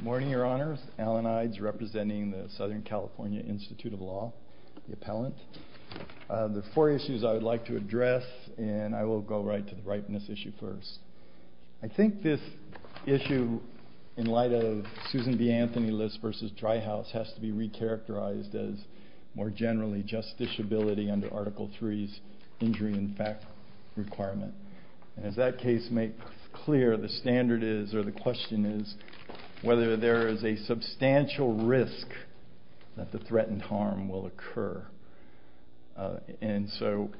Morning, your honors. Alan Ides, representing the Southern California Institute of Law, the appellant. There are four issues I would like to address, and I will go right to the ripeness issue first. I think this issue, in light of Susan B. Anthony List versus Dry House, has to be re-characterized as, more generally, justiciability under Article III's injury in fact requirement. And as that case makes clear, the standard is, or the question is, whether there is a substantial risk that the threatened harm will occur. And so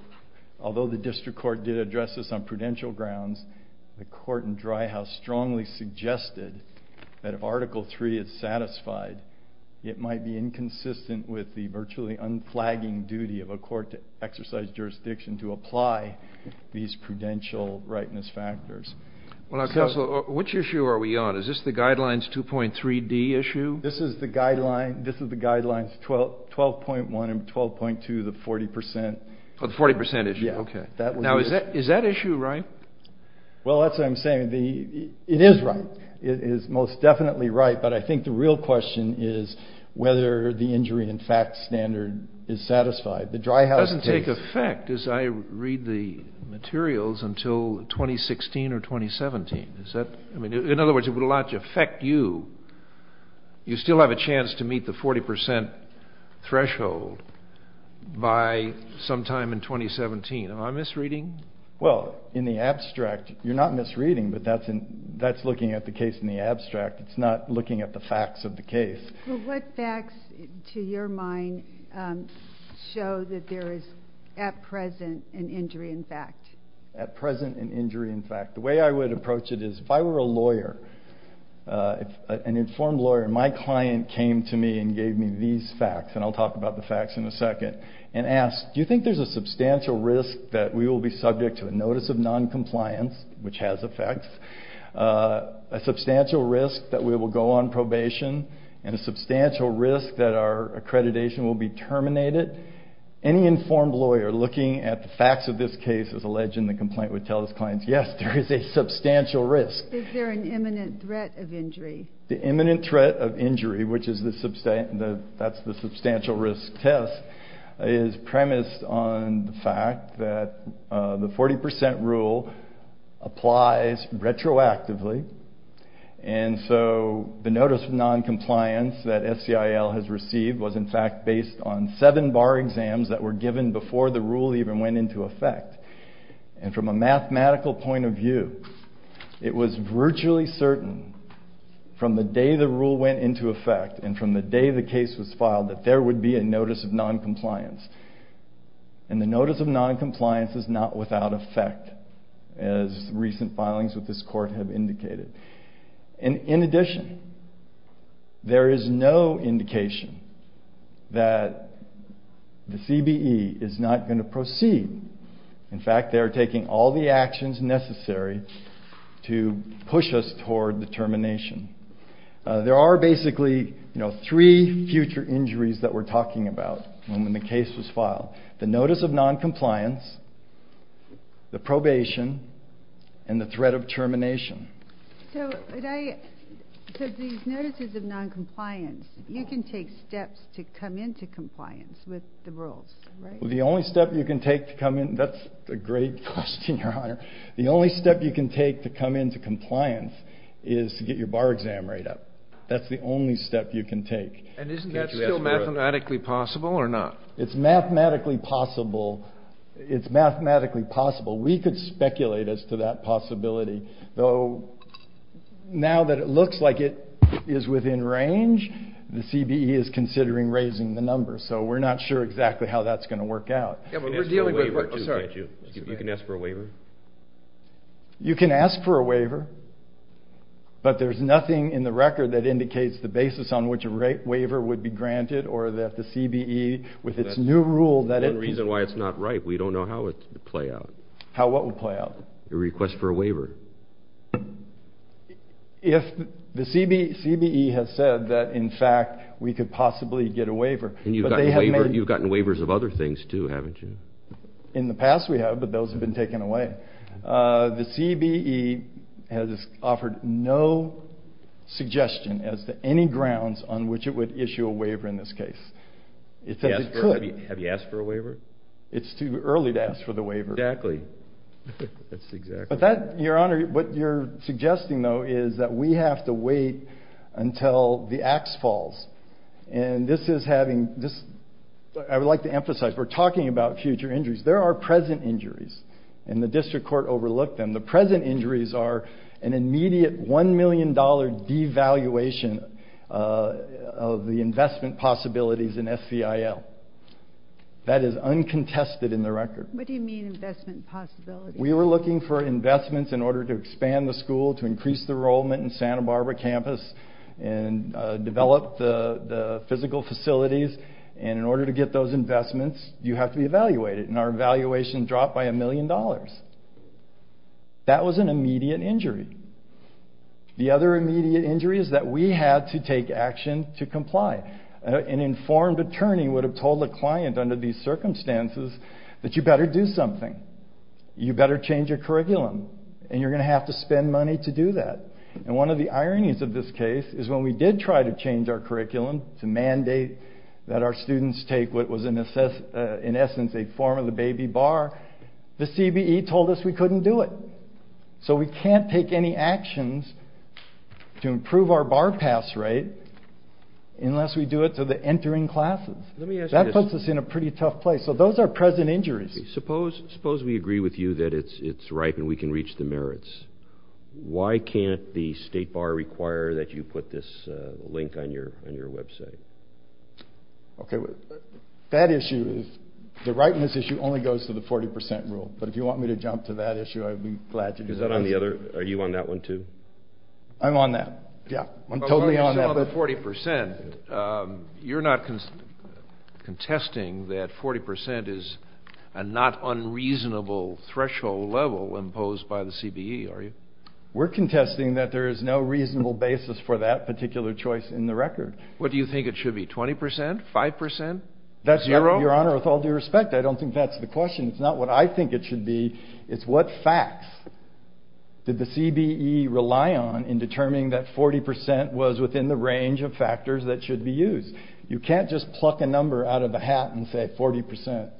although the district court did address this on prudential grounds, the court in Dry House strongly suggested that if Article III is satisfied, it might be inconsistent with the virtually unflagging duty of a court to exercise jurisdiction to apply these prudential rightness factors. Well now, Counselor, which issue are we on? Is this the Guidelines 2.3d issue? This is the Guidelines 12.1 and 12.2, the 40%. Oh, the 40% issue, OK. Now, is that issue right? Well, that's what I'm saying. It is right. It is most definitely right. But I think the real question is whether the injury in fact standard is satisfied. The Dry House case. It doesn't take effect, as I read the materials, until 2016 or 2017. In other words, it would allow it to affect you. You still have a chance to meet the 40% threshold by sometime in 2017. Am I misreading? Well, in the abstract, you're not misreading. But that's looking at the case in the abstract. It's not looking at the facts of the case. Well, what facts, to your mind, show that there is, at present, an injury in fact? At present, an injury in fact. The way I would approach it is, if I were a lawyer, an informed lawyer, and my client came to me and gave me these facts, and I'll talk about the facts in a second, and asked, do you think there's a substantial risk that we will be subject to a notice of noncompliance, which has effects, a substantial risk that we will go on probation, and a substantial risk that our accreditation will be terminated? Any informed lawyer looking at the facts of this case is alleged in the complaint would tell his clients, yes, there is a substantial risk. Is there an imminent threat of injury? The imminent threat of injury, which is the substantial risk test, is premised on the fact that the 40% rule applies retroactively. And so the notice of noncompliance that SCIL has received was, in fact, based on seven bar exams that were given before the rule even went into effect. And from a mathematical point of view, it was virtually certain from the day the rule went into effect, and from the day the case was filed, that there would be a notice of noncompliance. And the notice of noncompliance is not without effect, as recent filings with this court have indicated. And in addition, there is no indication that the CBE is not going to proceed. In fact, they are taking all the actions necessary to push us toward the termination. There are basically three future injuries that we're talking about when the case was filed. The notice of noncompliance, the probation, and the threat of termination. So these notices of noncompliance, you can take steps to come into compliance with the rules. The only step you can take to come in, that's a great question, Your Honor. The only step you can take to come into compliance is to get your bar exam rate up. That's the only step you can take. And isn't that still mathematically possible or not? It's mathematically possible. It's mathematically possible. We could speculate as to that possibility. Though now that it looks like it is within range, the CBE is considering raising the number. So we're not sure exactly how that's going to work out. Yeah, but we're dealing with what you can ask for a waiver. You can ask for a waiver, but there's nothing in the record that indicates the basis on which a waiver would be granted or that the CBE, with its new rule that it's not right. We don't know how it will play out. How what will play out? Your request for a waiver. If the CBE has said that, in fact, we could possibly get a waiver, but they haven't. You've gotten waivers of other things too, haven't you? In the past we have, but those have been taken away. The CBE has offered no suggestion as to any grounds on which it would issue a waiver in this case. It says it could. Have you asked for a waiver? It's too early to ask for the waiver. Exactly. That's exactly right. Your Honor, what you're suggesting, though, is that we have to wait until the ax falls. And this is having this, I would like to emphasize, we're talking about future injuries. There are present injuries, and the district court overlooked them. The present injuries are an immediate $1 million devaluation of the investment possibilities in FVIL. That is uncontested in the record. What do you mean, investment possibilities? We were looking for investments in order to expand the school, to increase the enrollment in Santa Barbara campus, and develop the physical facilities. And in order to get those investments, you have to be evaluated. And our valuation dropped by $1 million. That was an immediate injury. The other immediate injury is that we had to take action to comply. An informed attorney would have told the client, under these circumstances, that you better do something. You better change your curriculum. And you're going to have to spend money to do that. And one of the ironies of this case is when we did try to change our curriculum to mandate that our students take what was, in essence, a form of the baby bar, the CBE told us we couldn't do it. So we can't take any actions to improve our bar pass rate unless we do it to the entering classes. That puts us in a pretty tough place. So those are present injuries. Suppose we agree with you that it's ripe and we can reach the merits. Why can't the state bar require that you put this link on your website? OK, the rightness issue only goes to the 40% rule. But if you want me to jump to that issue, I'd be glad to. Are you on that one, too? I'm on that. Yeah, I'm totally on that. 40%, you're not contesting that 40% is a not unreasonable threshold level imposed by the CBE, are you? We're contesting that there is no reasonable basis for that particular choice in the record. What do you think it should be, 20%, 5%, 0%? Your Honor, with all due respect, I don't think that's the question. It's not what I think it should be. It's what facts did the CBE rely on in determining that 40% was within the range of factors that should be used. You can't just pluck a number out of a hat and say 40%.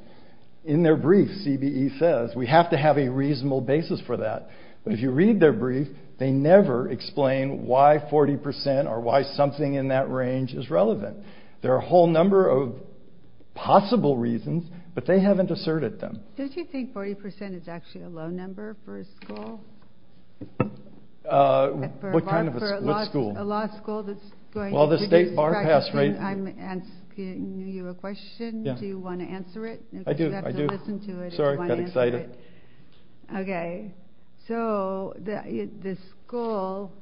In their brief, CBE says, we have to have a reasonable basis for that. But if you read their brief, they never explain why 40% or why something in that range is relevant. There are a whole number of possible reasons, but they haven't asserted them. Don't you think 40% is actually a low number for a school? What kind of a school? A law school that's going to do this practice. I'm asking you a question, do you want to answer it? I do, I do. Sorry, I got excited. OK, so the school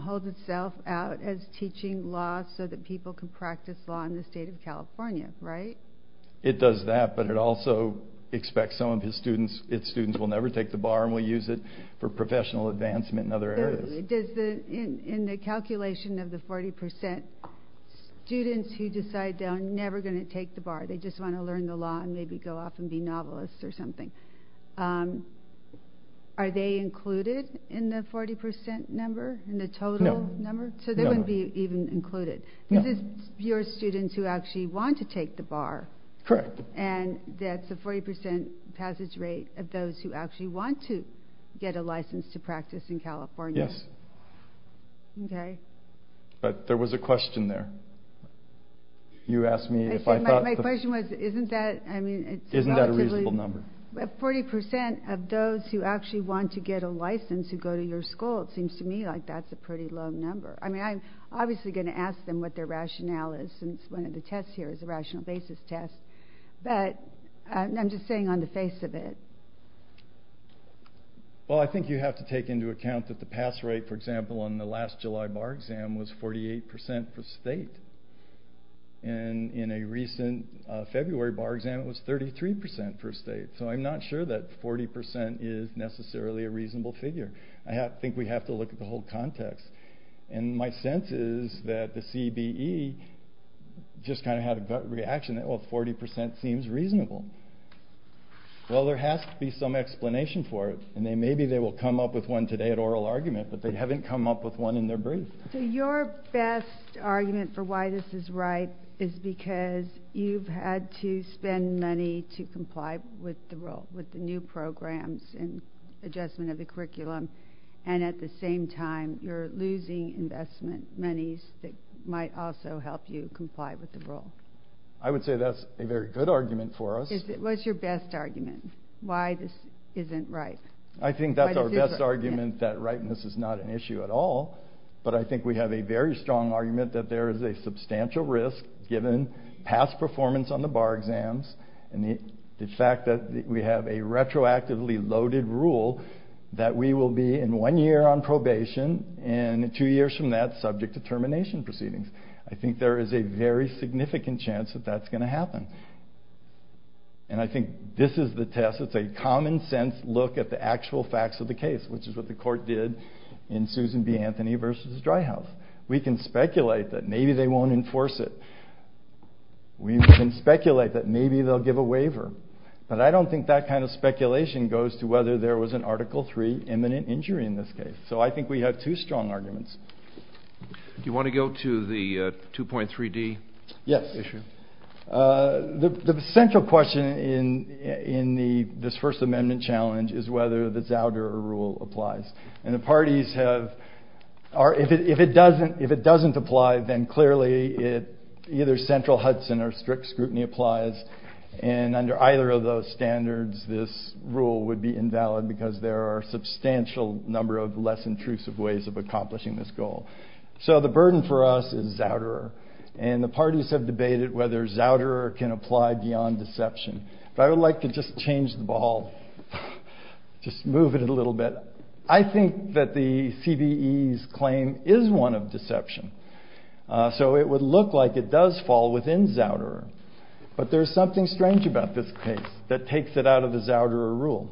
holds itself out as teaching law so that people can practice law in the state of California, right? It does that, but it also expects some of its students will never take the bar and will use it for professional advancement in other areas. In the calculation of the 40%, students who decide they're never going to take the bar, they just want to learn the law and maybe go off and be novelists or something, are they included in the 40% number, in the total number? So they wouldn't be even included. This is your students who actually want to take the bar. Correct. And that's a 40% passage rate of those who actually want to get a license to practice in California. Yes. OK. But there was a question there. You asked me if I thought that. My question was, isn't that, I mean, it's relatively. Isn't that a reasonable number? 40% of those who actually want to get a license to go to your school, it seems to me like that's a pretty low number. I mean, I'm obviously going to ask them what their rationale is, since one of the tests here is a rational basis test. But I'm just saying on the face of it. Well, I think you have to take into account that the pass rate, for example, on the last July bar exam was 48% per state. And in a recent February bar exam, it was 33% per state. So I'm not sure that 40% is necessarily a reasonable figure. I think we have to look at the whole context. And my sense is that the CBE just kind of had a gut reaction. Well, 40% seems reasonable. Well, there has to be some explanation for it. And maybe they will come up with one today at oral argument. But they haven't come up with one in their brief. So your best argument for why this is right is because you've had to spend money to comply with the new programs and adjustment of the curriculum. And at the same time, you're losing investment monies that might also help you comply with the rule. I would say that's a very good argument for us. What's your best argument? Why this isn't right? I think that's our best argument, that rightness is not an issue at all. But I think we have a very strong argument that there is a substantial risk, given past performance on the bar exams, and the fact that we have a retroactively loaded rule, that we will be in one year on probation, and two years from that, subject to termination proceedings. I think there is a very significant chance that that's going to happen. And I think this is the test. It's a common sense look at the actual facts of the case, which is what the court did in Susan B. Anthony versus Dry House. We can speculate that maybe they won't enforce it. We can speculate that maybe they'll give a waiver. But I don't think that kind of speculation goes to whether there was an Article III imminent injury in this case. So I think we have two strong arguments. Do you want to go to the 2.3D issue? Yes. The central question in this First Amendment challenge is whether the Zouder rule applies. And the parties have, if it doesn't apply, then clearly either central Hudson or strict scrutiny applies. And under either of those standards, this rule would be invalid, because there are a substantial number of less intrusive ways of accomplishing this goal. So the burden for us is Zouderer. And the parties have debated whether Zouderer can apply beyond deception. But I would like to just change the ball, just move it a little bit. I think that the CBE's claim is one of deception. So it would look like it does fall within Zouderer. But there's something strange about this case that takes it out of the Zouderer rule.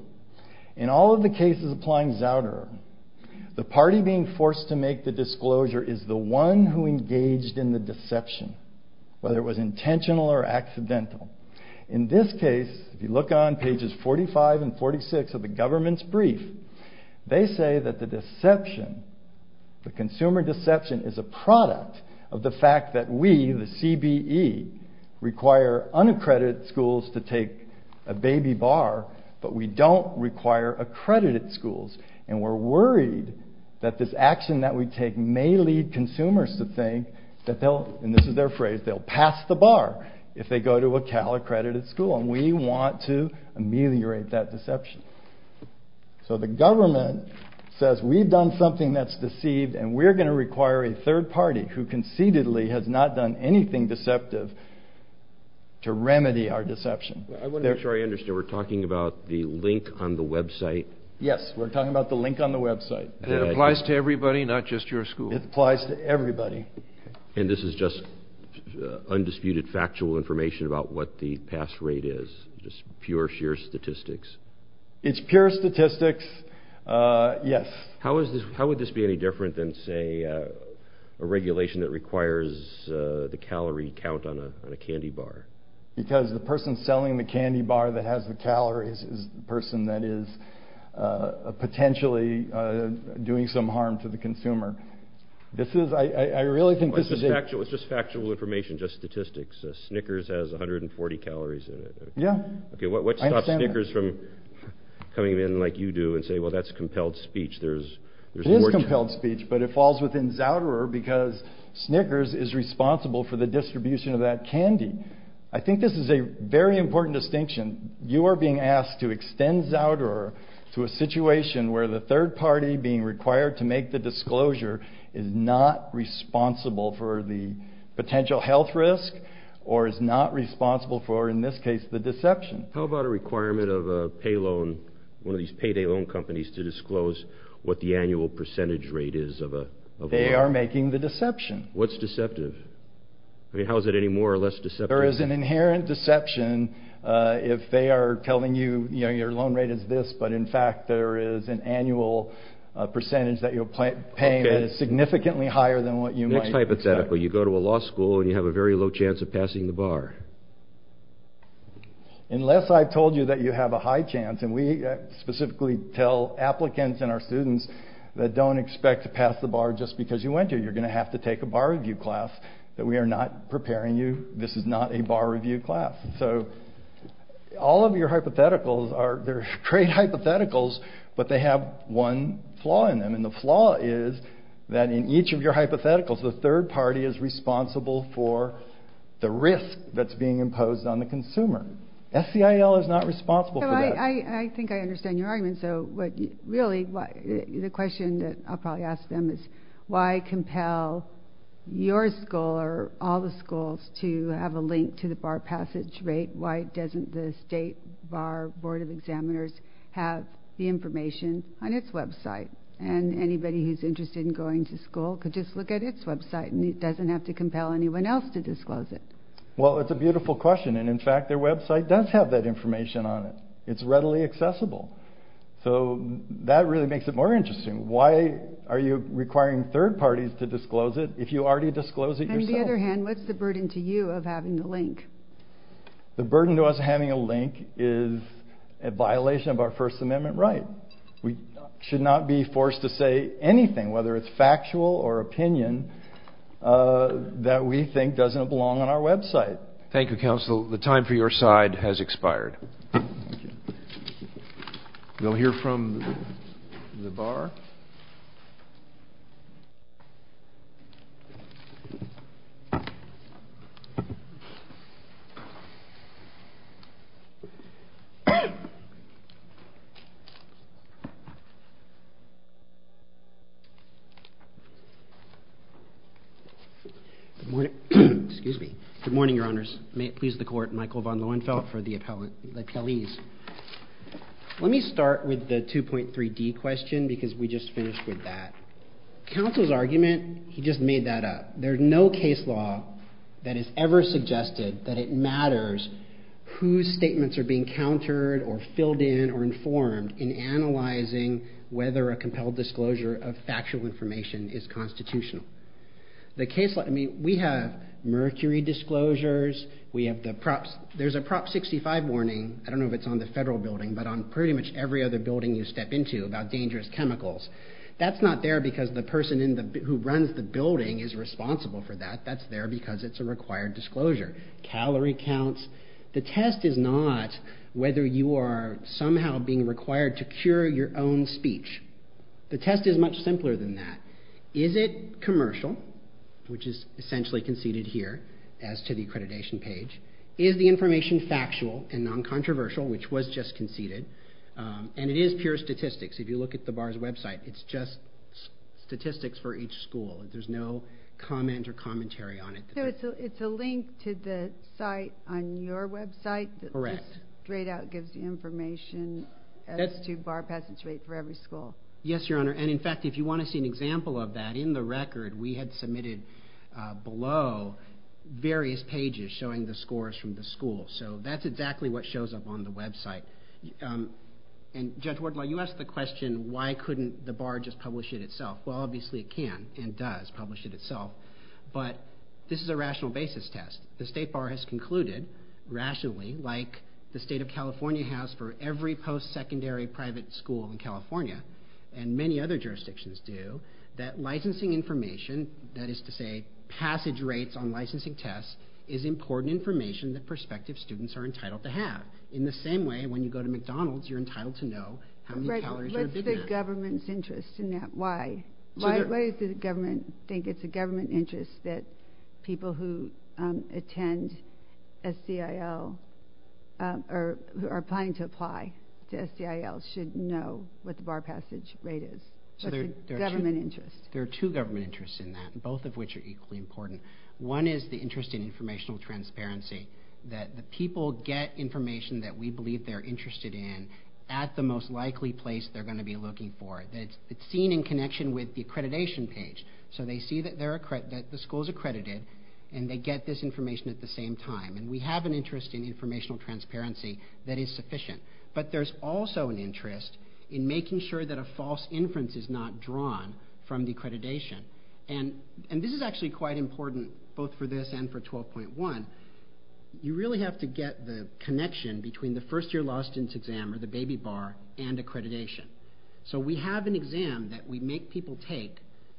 In all of the cases applying Zouderer, the party being forced to make the disclosure is the one who engaged in the deception, whether it was intentional or accidental. In this case, if you look on pages 45 and 46 of the government's brief, they say that the deception, the consumer deception, is a product of the fact that we, the CBE, require unaccredited schools to take a baby bar, but we don't require accredited schools. And we're worried that this action that we take may lead consumers to think that they'll, and this is their phrase, they'll pass the bar if they go to a Cal-accredited school. And we want to ameliorate that deception. So the government says, we've done something that's deceived, and we're going to require a third party who conceitedly has not done anything deceptive to remedy our deception. I want to make sure I understand. We're talking about the link on the website? Yes, we're talking about the link on the website. And it applies to everybody, not just your school? It applies to everybody. And this is just undisputed, factual information about what the pass rate is, just pure, sheer statistics? It's pure statistics, yes. How would this be any different than, say, a regulation that requires the calorie count on a candy bar? Because the person selling the candy bar that has the calories is the person that is potentially doing some harm to the consumer. This is, I really think this is a- It's just factual information, just statistics. Snickers has 140 calories in it. Yeah. Okay, what stops Snickers from coming in like you do and say, well, that's compelled speech. It is compelled speech, but it falls within Zouderer because Snickers is responsible for the distribution of that candy. I think this is a very important distinction. You are being asked to extend Zouderer to a situation where the third party being required to make the disclosure is not responsible for the potential health risk, or is not responsible for, in this case, the deception. How about a requirement of a payloan, one of these payday loan companies to disclose what the annual percentage rate is of a- They are making the deception. What's deceptive? I mean, how is it any more or less deceptive? There is an inherent deception if they are telling you, you know, your loan rate is this, but in fact, there is an annual percentage that you'll pay that is significantly higher than what you might expect. Next type of setup, where you go to a law school and you have a very low chance of passing the bar. Unless I've told you that you have a high chance, and we specifically tell applicants and our students that don't expect to pass the bar just because you went to. You're going to have to take a bar review class that we are not preparing you. This is not a bar review class. So all of your hypotheticals are, they're trade hypotheticals, but they have one flaw in them. And the flaw is that in each of your hypotheticals, the third party is responsible for the risk that's being imposed on the consumer. SCIL is not responsible for that. I think I understand your argument. So what really, the question that I'll probably ask them is, why compel your school or all the schools to have a link to the bar passage rate? Why doesn't the state bar board of examiners have the information on its website? And anybody who's interested in going to school could just look at its website and it doesn't have to compel anyone else to disclose it. Well, it's a beautiful question. And in fact, their website does have that information on it. It's readily accessible. So that really makes it more interesting. Why are you requiring third parties to disclose it if you already disclosed it yourself? On the other hand, what's the burden to you of having the link? The burden to us having a link is a violation of our first amendment right. We should not be forced to say anything, whether it's factual or opinion, that we think doesn't belong on our website. Thank you, counsel. The time for your side has expired. Thank you. We'll hear from the bar. Good morning. Excuse me. Good morning, your honors. May it please the court. Michael von Lohenfeldt for the appellees. Let me start with the 2.3D question because we just finished with that. Counsel's argument, he just made that up. There's no case law that has ever suggested that it matters whose statements are being countered or filled in or informed in analyzing whether a compelled disclosure of factual information is constitutional. The case, I mean, we have mercury disclosures. We have the props. There's a prop 65 warning. I don't know if it's on the federal building, but on pretty much every other building you step into about dangerous chemicals. That's not there because the person who runs the building is responsible for that. That's there because it's a required disclosure. Calorie counts. The test is not whether you are somehow being required to cure your own speech. The test is much simpler than that. Is it commercial, which is essentially conceded here as to the accreditation page? Is the information factual and non-controversial, which was just conceded? And it is pure statistics. If you look at the bar's website, it's just statistics for each school. There's no comment or commentary on it. It's a link to the site on your website? Correct. Straight out gives you information as to bar passage rate for every school. Yes, your honor. And in fact, if you want to see an example of that, in the record, we had submitted below various pages showing the scores from the school. So that's exactly what shows up on the website. And Judge Wardlaw, you asked the question, why couldn't the bar just publish it itself? Well, obviously it can and does publish it itself, but this is a rational basis test. The state bar has concluded, rationally, like the state of California has for every post-secondary private school in California, and many other jurisdictions do, that licensing information, that is to say, passage rates on licensing tests, is important information that prospective students are entitled to have. In the same way, when you go to McDonald's, you're entitled to know how many calories are big enough. What's the government's interest in that? Why? Why does the government think it's a government interest that people who attend SCIL, or who are planning to apply to SCIL, should know what the bar passage rate is? What's the government interest? There are two government interests in that, both of which are equally important. One is the interest in informational transparency, that the people get information that we believe they're interested in at the most likely place they're gonna be looking for. It's seen in connection with the accreditation page. So they see that the school's accredited, and they get this information at the same time. And we have an interest in informational transparency that is sufficient. But there's also an interest in making sure that a false inference is not drawn from the accreditation. And this is actually quite important, both for this and for 12.1. You really have to get the connection between the first year law student's exam, or the baby bar, and accreditation. So we have an exam that we make people take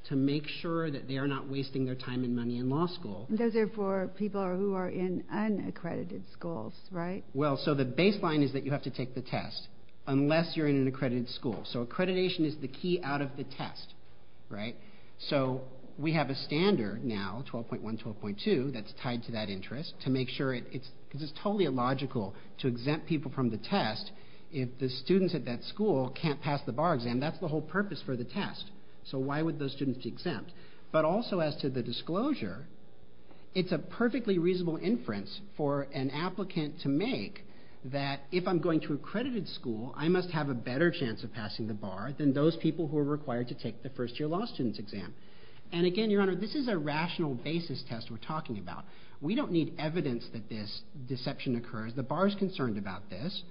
to make sure that they are not wasting their time and money in law school. Those are for people who are in unaccredited schools, right? Well, so the baseline is that you have to take the test, unless you're in an accredited school. So accreditation is the key out of the test, right? So we have a standard now, 12.1, 12.2, that's tied to that interest to make sure it's... Because it's totally illogical to exempt people from the test if the students at that school can't pass the bar exam. That's the whole purpose for the test. So why would those students be exempt? But also as to the disclosure, it's a perfectly reasonable inference for an applicant to make that if I'm going to accredited school, I must have a better chance of passing the bar than those people who are required to take the first year law student's exam. And again, Your Honor, this is a rational basis test we're talking about. We don't need evidence that this deception occurs. The bar is concerned about this,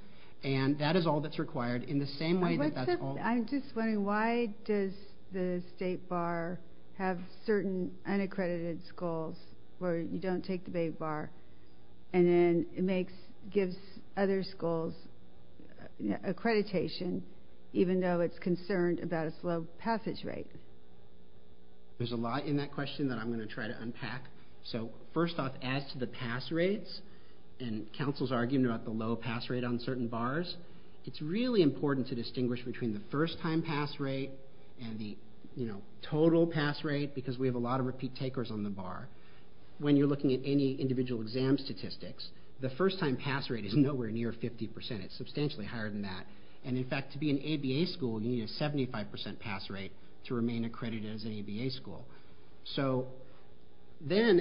and that is all that's required in the same way that that's all... I'm just wondering, why does the state bar have certain unaccredited schools where you don't take the baby bar, and then it gives other schools accreditation even though it's concerned about its low passage rate? There's a lot in that question that I'm gonna try to unpack. So first off, as to the pass rates, and counsel's arguing about the low pass rate on certain bars, it's really important to distinguish between the first time pass rate and the total pass rate because we have a lot of repeat takers on the bar. When you're looking at any individual exam statistics, the first time pass rate is nowhere near 50%. It's substantially higher than that. And in fact, to be an ABA school, you need a 75% pass rate to remain accredited as an ABA school. So then,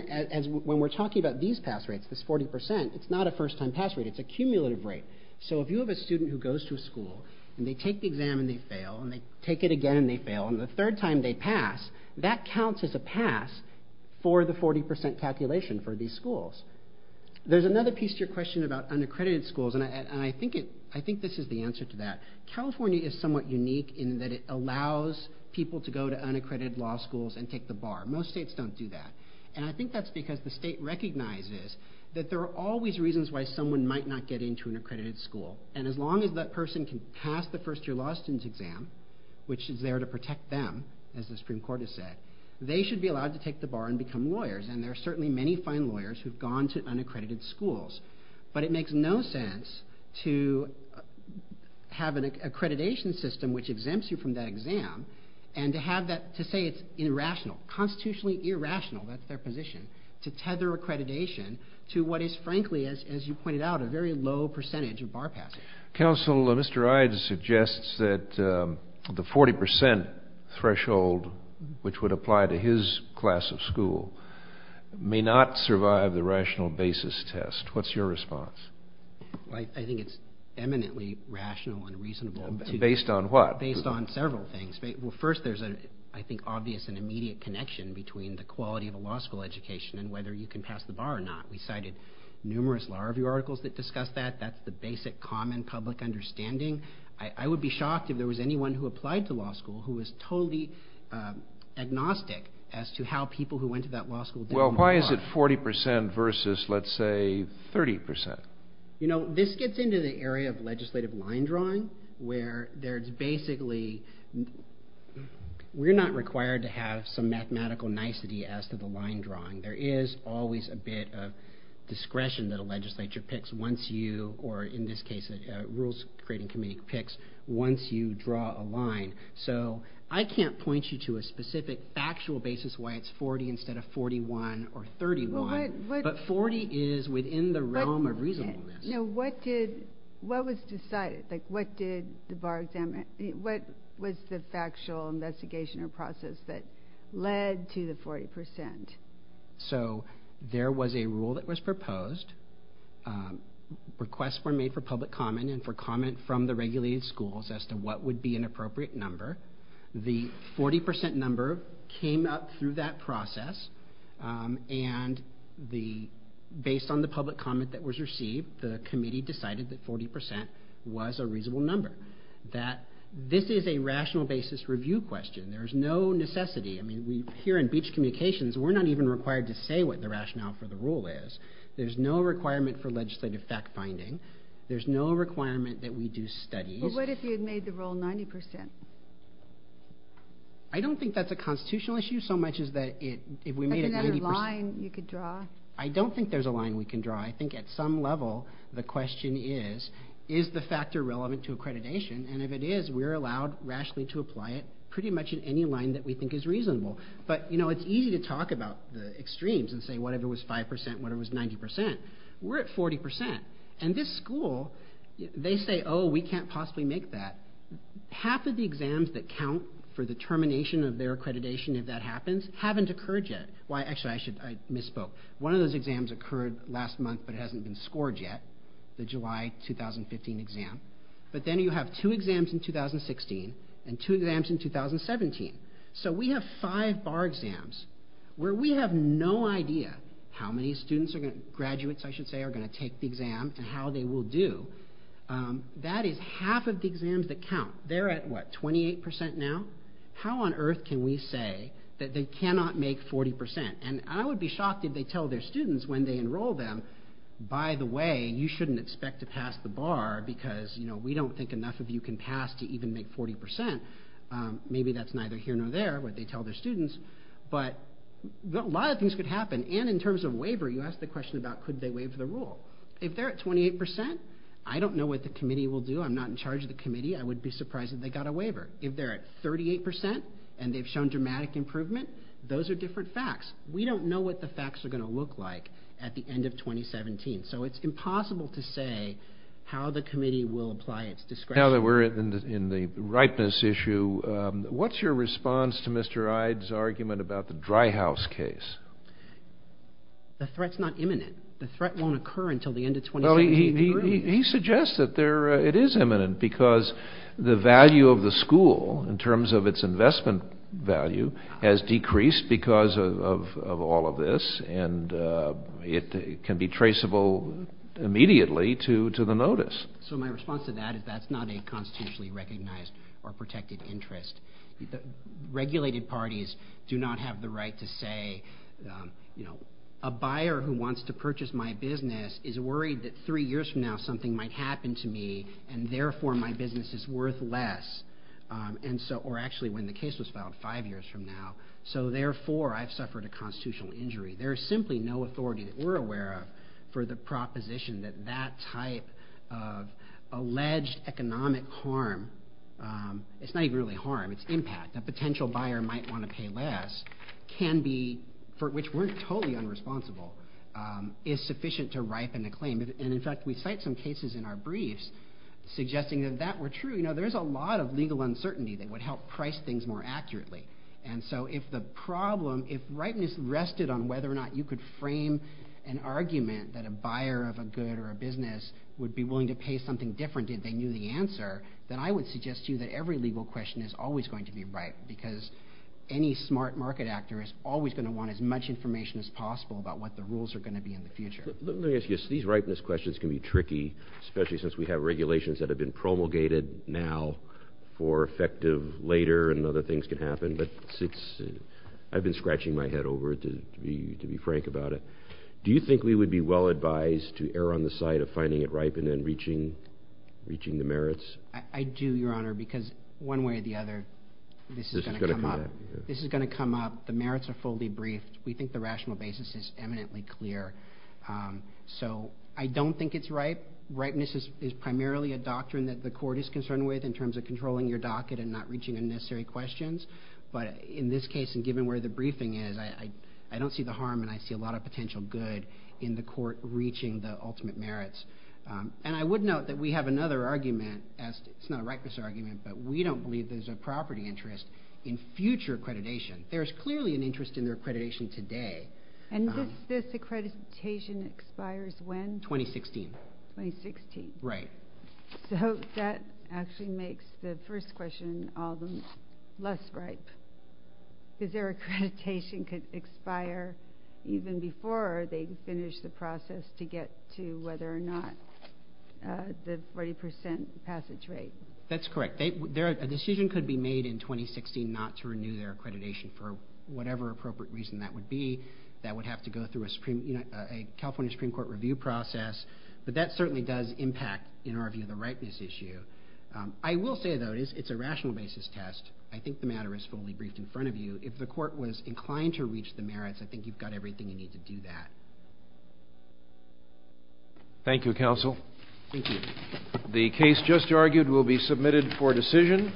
when we're talking about these pass rates, this 40%, it's not a first time pass rate, it's a cumulative rate. So if you have a student who goes to a school, and they take the exam and they fail, and they take it again and they fail, and the third time they pass, that counts as a pass for the 40% calculation for these schools. There's another piece to your question about unaccredited schools, and I think this is the answer to that. California is somewhat unique in that it allows people to go to unaccredited law schools and take the bar. Most states don't do that. And I think that's because the state recognizes that there are always reasons why someone might not get into an accredited school. And as long as that person can pass the first year law student's exam, which is there to protect them, as the Supreme Court has said, they should be allowed to take the bar and become lawyers. And there are certainly many fine lawyers who've gone to unaccredited schools. But it makes no sense to have an accreditation system which exempts you from that exam, and to have that, to say it's irrational, constitutionally irrational, that's their position, to tether accreditation to what is frankly, as you pointed out, a very low percentage of bar passers. Council, Mr. Ides suggests that the 40% threshold which would apply to his class of school may not survive the rational basis test. What's your response? I think it's eminently rational and reasonable. Based on what? Based on several things. Well, first, there's an, I think, obvious and immediate connection between the quality of a law school education and whether you can pass the bar or not. We cited numerous law review articles that discuss that. That's the basic common public understanding. I would be shocked if there was anyone who applied to law school who was totally agnostic as to how people who went to that law school did on the bar. Well, why is it 40% versus, let's say, 30%? You know, this gets into the area of legislative line drawing, where there's basically, we're not required to have some mathematical nicety as to the line drawing. There is always a bit of discretion that a legislature picks once you, or in this case, a rules creating committee picks once you draw a line. So, I can't point you to a specific factual basis why it's 40 instead of 41 or 30 line, but 40 is within the realm of reasonableness. No, what did, what was decided? Like, what did the bar exam, what was the factual investigation or process that led to the 40%? So, there was a rule that was proposed. Requests were made for public comment and for comment from the regulated schools as to what would be an appropriate number. The 40% number came up through that process and the, based on the public comment that was received, the committee decided that 40% was a reasonable number. That, this is a rational basis review question. There's no necessity. I mean, we, here in Beach Communications, we're not even required to say what the rationale for the rule is. There's no requirement for legislative fact-finding. There's no requirement that we do studies. But what if you had made the rule 90%? I don't think that's a constitutional issue so much as that it, if we made it 90%- Is there another line you could draw? I don't think there's a line we can draw. I think at some level, the question is, is the factor relevant to accreditation? And if it is, we're allowed rationally to apply it pretty much in any line that we think is reasonable. But, you know, it's easy to talk about the extremes and say whatever was 5%, whatever was 90%, we're at 40%. And this school, they say, oh, we can't possibly make that. Half of the exams that count for the termination of their accreditation, if that happens, haven't occurred yet. Why, actually, I misspoke. One of those exams occurred last month, but it hasn't been scored yet, the July 2015 exam. But then you have two exams in 2016 and two exams in 2017. So we have five bar exams where we have no idea how many students, graduates, I should say, are gonna take the exam and how they will do. That is half of the exams that count. They're at, what, 28% now? How on earth can we say that they cannot make 40%? And I would be shocked if they tell their students when they enroll them, by the way, you shouldn't expect to pass the bar because we don't think enough of you can pass to even make 40%. Maybe that's neither here nor there, what they tell their students. But a lot of things could happen. And in terms of waiver, you asked the question about could they waive the rule? If they're at 28%, I don't know what the committee will do. I'm not in charge of the committee. I would be surprised if they got a waiver. If they're at 38% and they've shown dramatic improvement, those are different facts. We don't know what the facts are gonna look like at the end of 2017. So it's impossible to say how the committee will apply its discretion. Now that we're in the ripeness issue, what's your response to Mr. Ide's argument about the dry house case? The threat's not imminent. The threat won't occur until the end of 2017. He suggests that it is imminent because the value of the school in terms of its investment value has decreased because of all of this and it can be traceable immediately to the notice. So my response to that is that's not a constitutionally recognized or protected interest. Regulated parties do not have the right to say, a buyer who wants to purchase my business is worried that three years from now something might happen to me and therefore my business is worth less. And so, or actually when the case was filed five years from now, so therefore I've suffered a constitutional injury. There is simply no authority that we're aware of for the proposition that that type of alleged economic harm, it's not even really harm, it's impact. A potential buyer might want to pay less, can be, for which we're totally unresponsible, is sufficient to ripen a claim. And in fact, we cite some cases in our briefs suggesting that that were true. You know, there's a lot of legal uncertainty that would help price things more accurately. on whether or not you could frame an argument that a buyer of a good or a business would be willing to pay something different if they knew the answer, then I would suggest to you that every legal question is always going to be right, because any smart market actor is always gonna want as much information as possible about what the rules are gonna be in the future. Let me ask you, so these ripeness questions can be tricky, especially since we have regulations that have been promulgated now for effective later and other things can happen, but since I've been scratching my head over it to be frank about it, do you think we would be well-advised to err on the side of finding it ripe and then reaching the merits? I do, Your Honor, because one way or the other, this is gonna come up. This is gonna come up, the merits are fully briefed. We think the rational basis is eminently clear. So I don't think it's ripe. Ripeness is primarily a doctrine that the court is concerned with in terms of controlling your docket and not reaching unnecessary questions. But in this case, and given where the briefing is, I don't see the harm and I see a lot of potential good in the court reaching the ultimate merits. And I would note that we have another argument, it's not a ripeness argument, but we don't believe there's a property interest in future accreditation. There's clearly an interest in their accreditation today. And this accreditation expires when? 2016. 2016. Right. So that actually makes the first question all the less ripe. Because their accreditation could expire even before they finish the process to get to whether or not the 40% passage rate. That's correct. A decision could be made in 2016 not to renew their accreditation for whatever appropriate reason that would be. That would have to go through a California Supreme Court review process. But that certainly does impact, in our view, the ripeness issue. I will say though, it's a rational basis test. I think the matter is fully briefed in front of you. If the court was inclined to reach the merits, I think you've got everything you need to do that. Thank you, counsel. Thank you. The case just argued will be submitted for decision.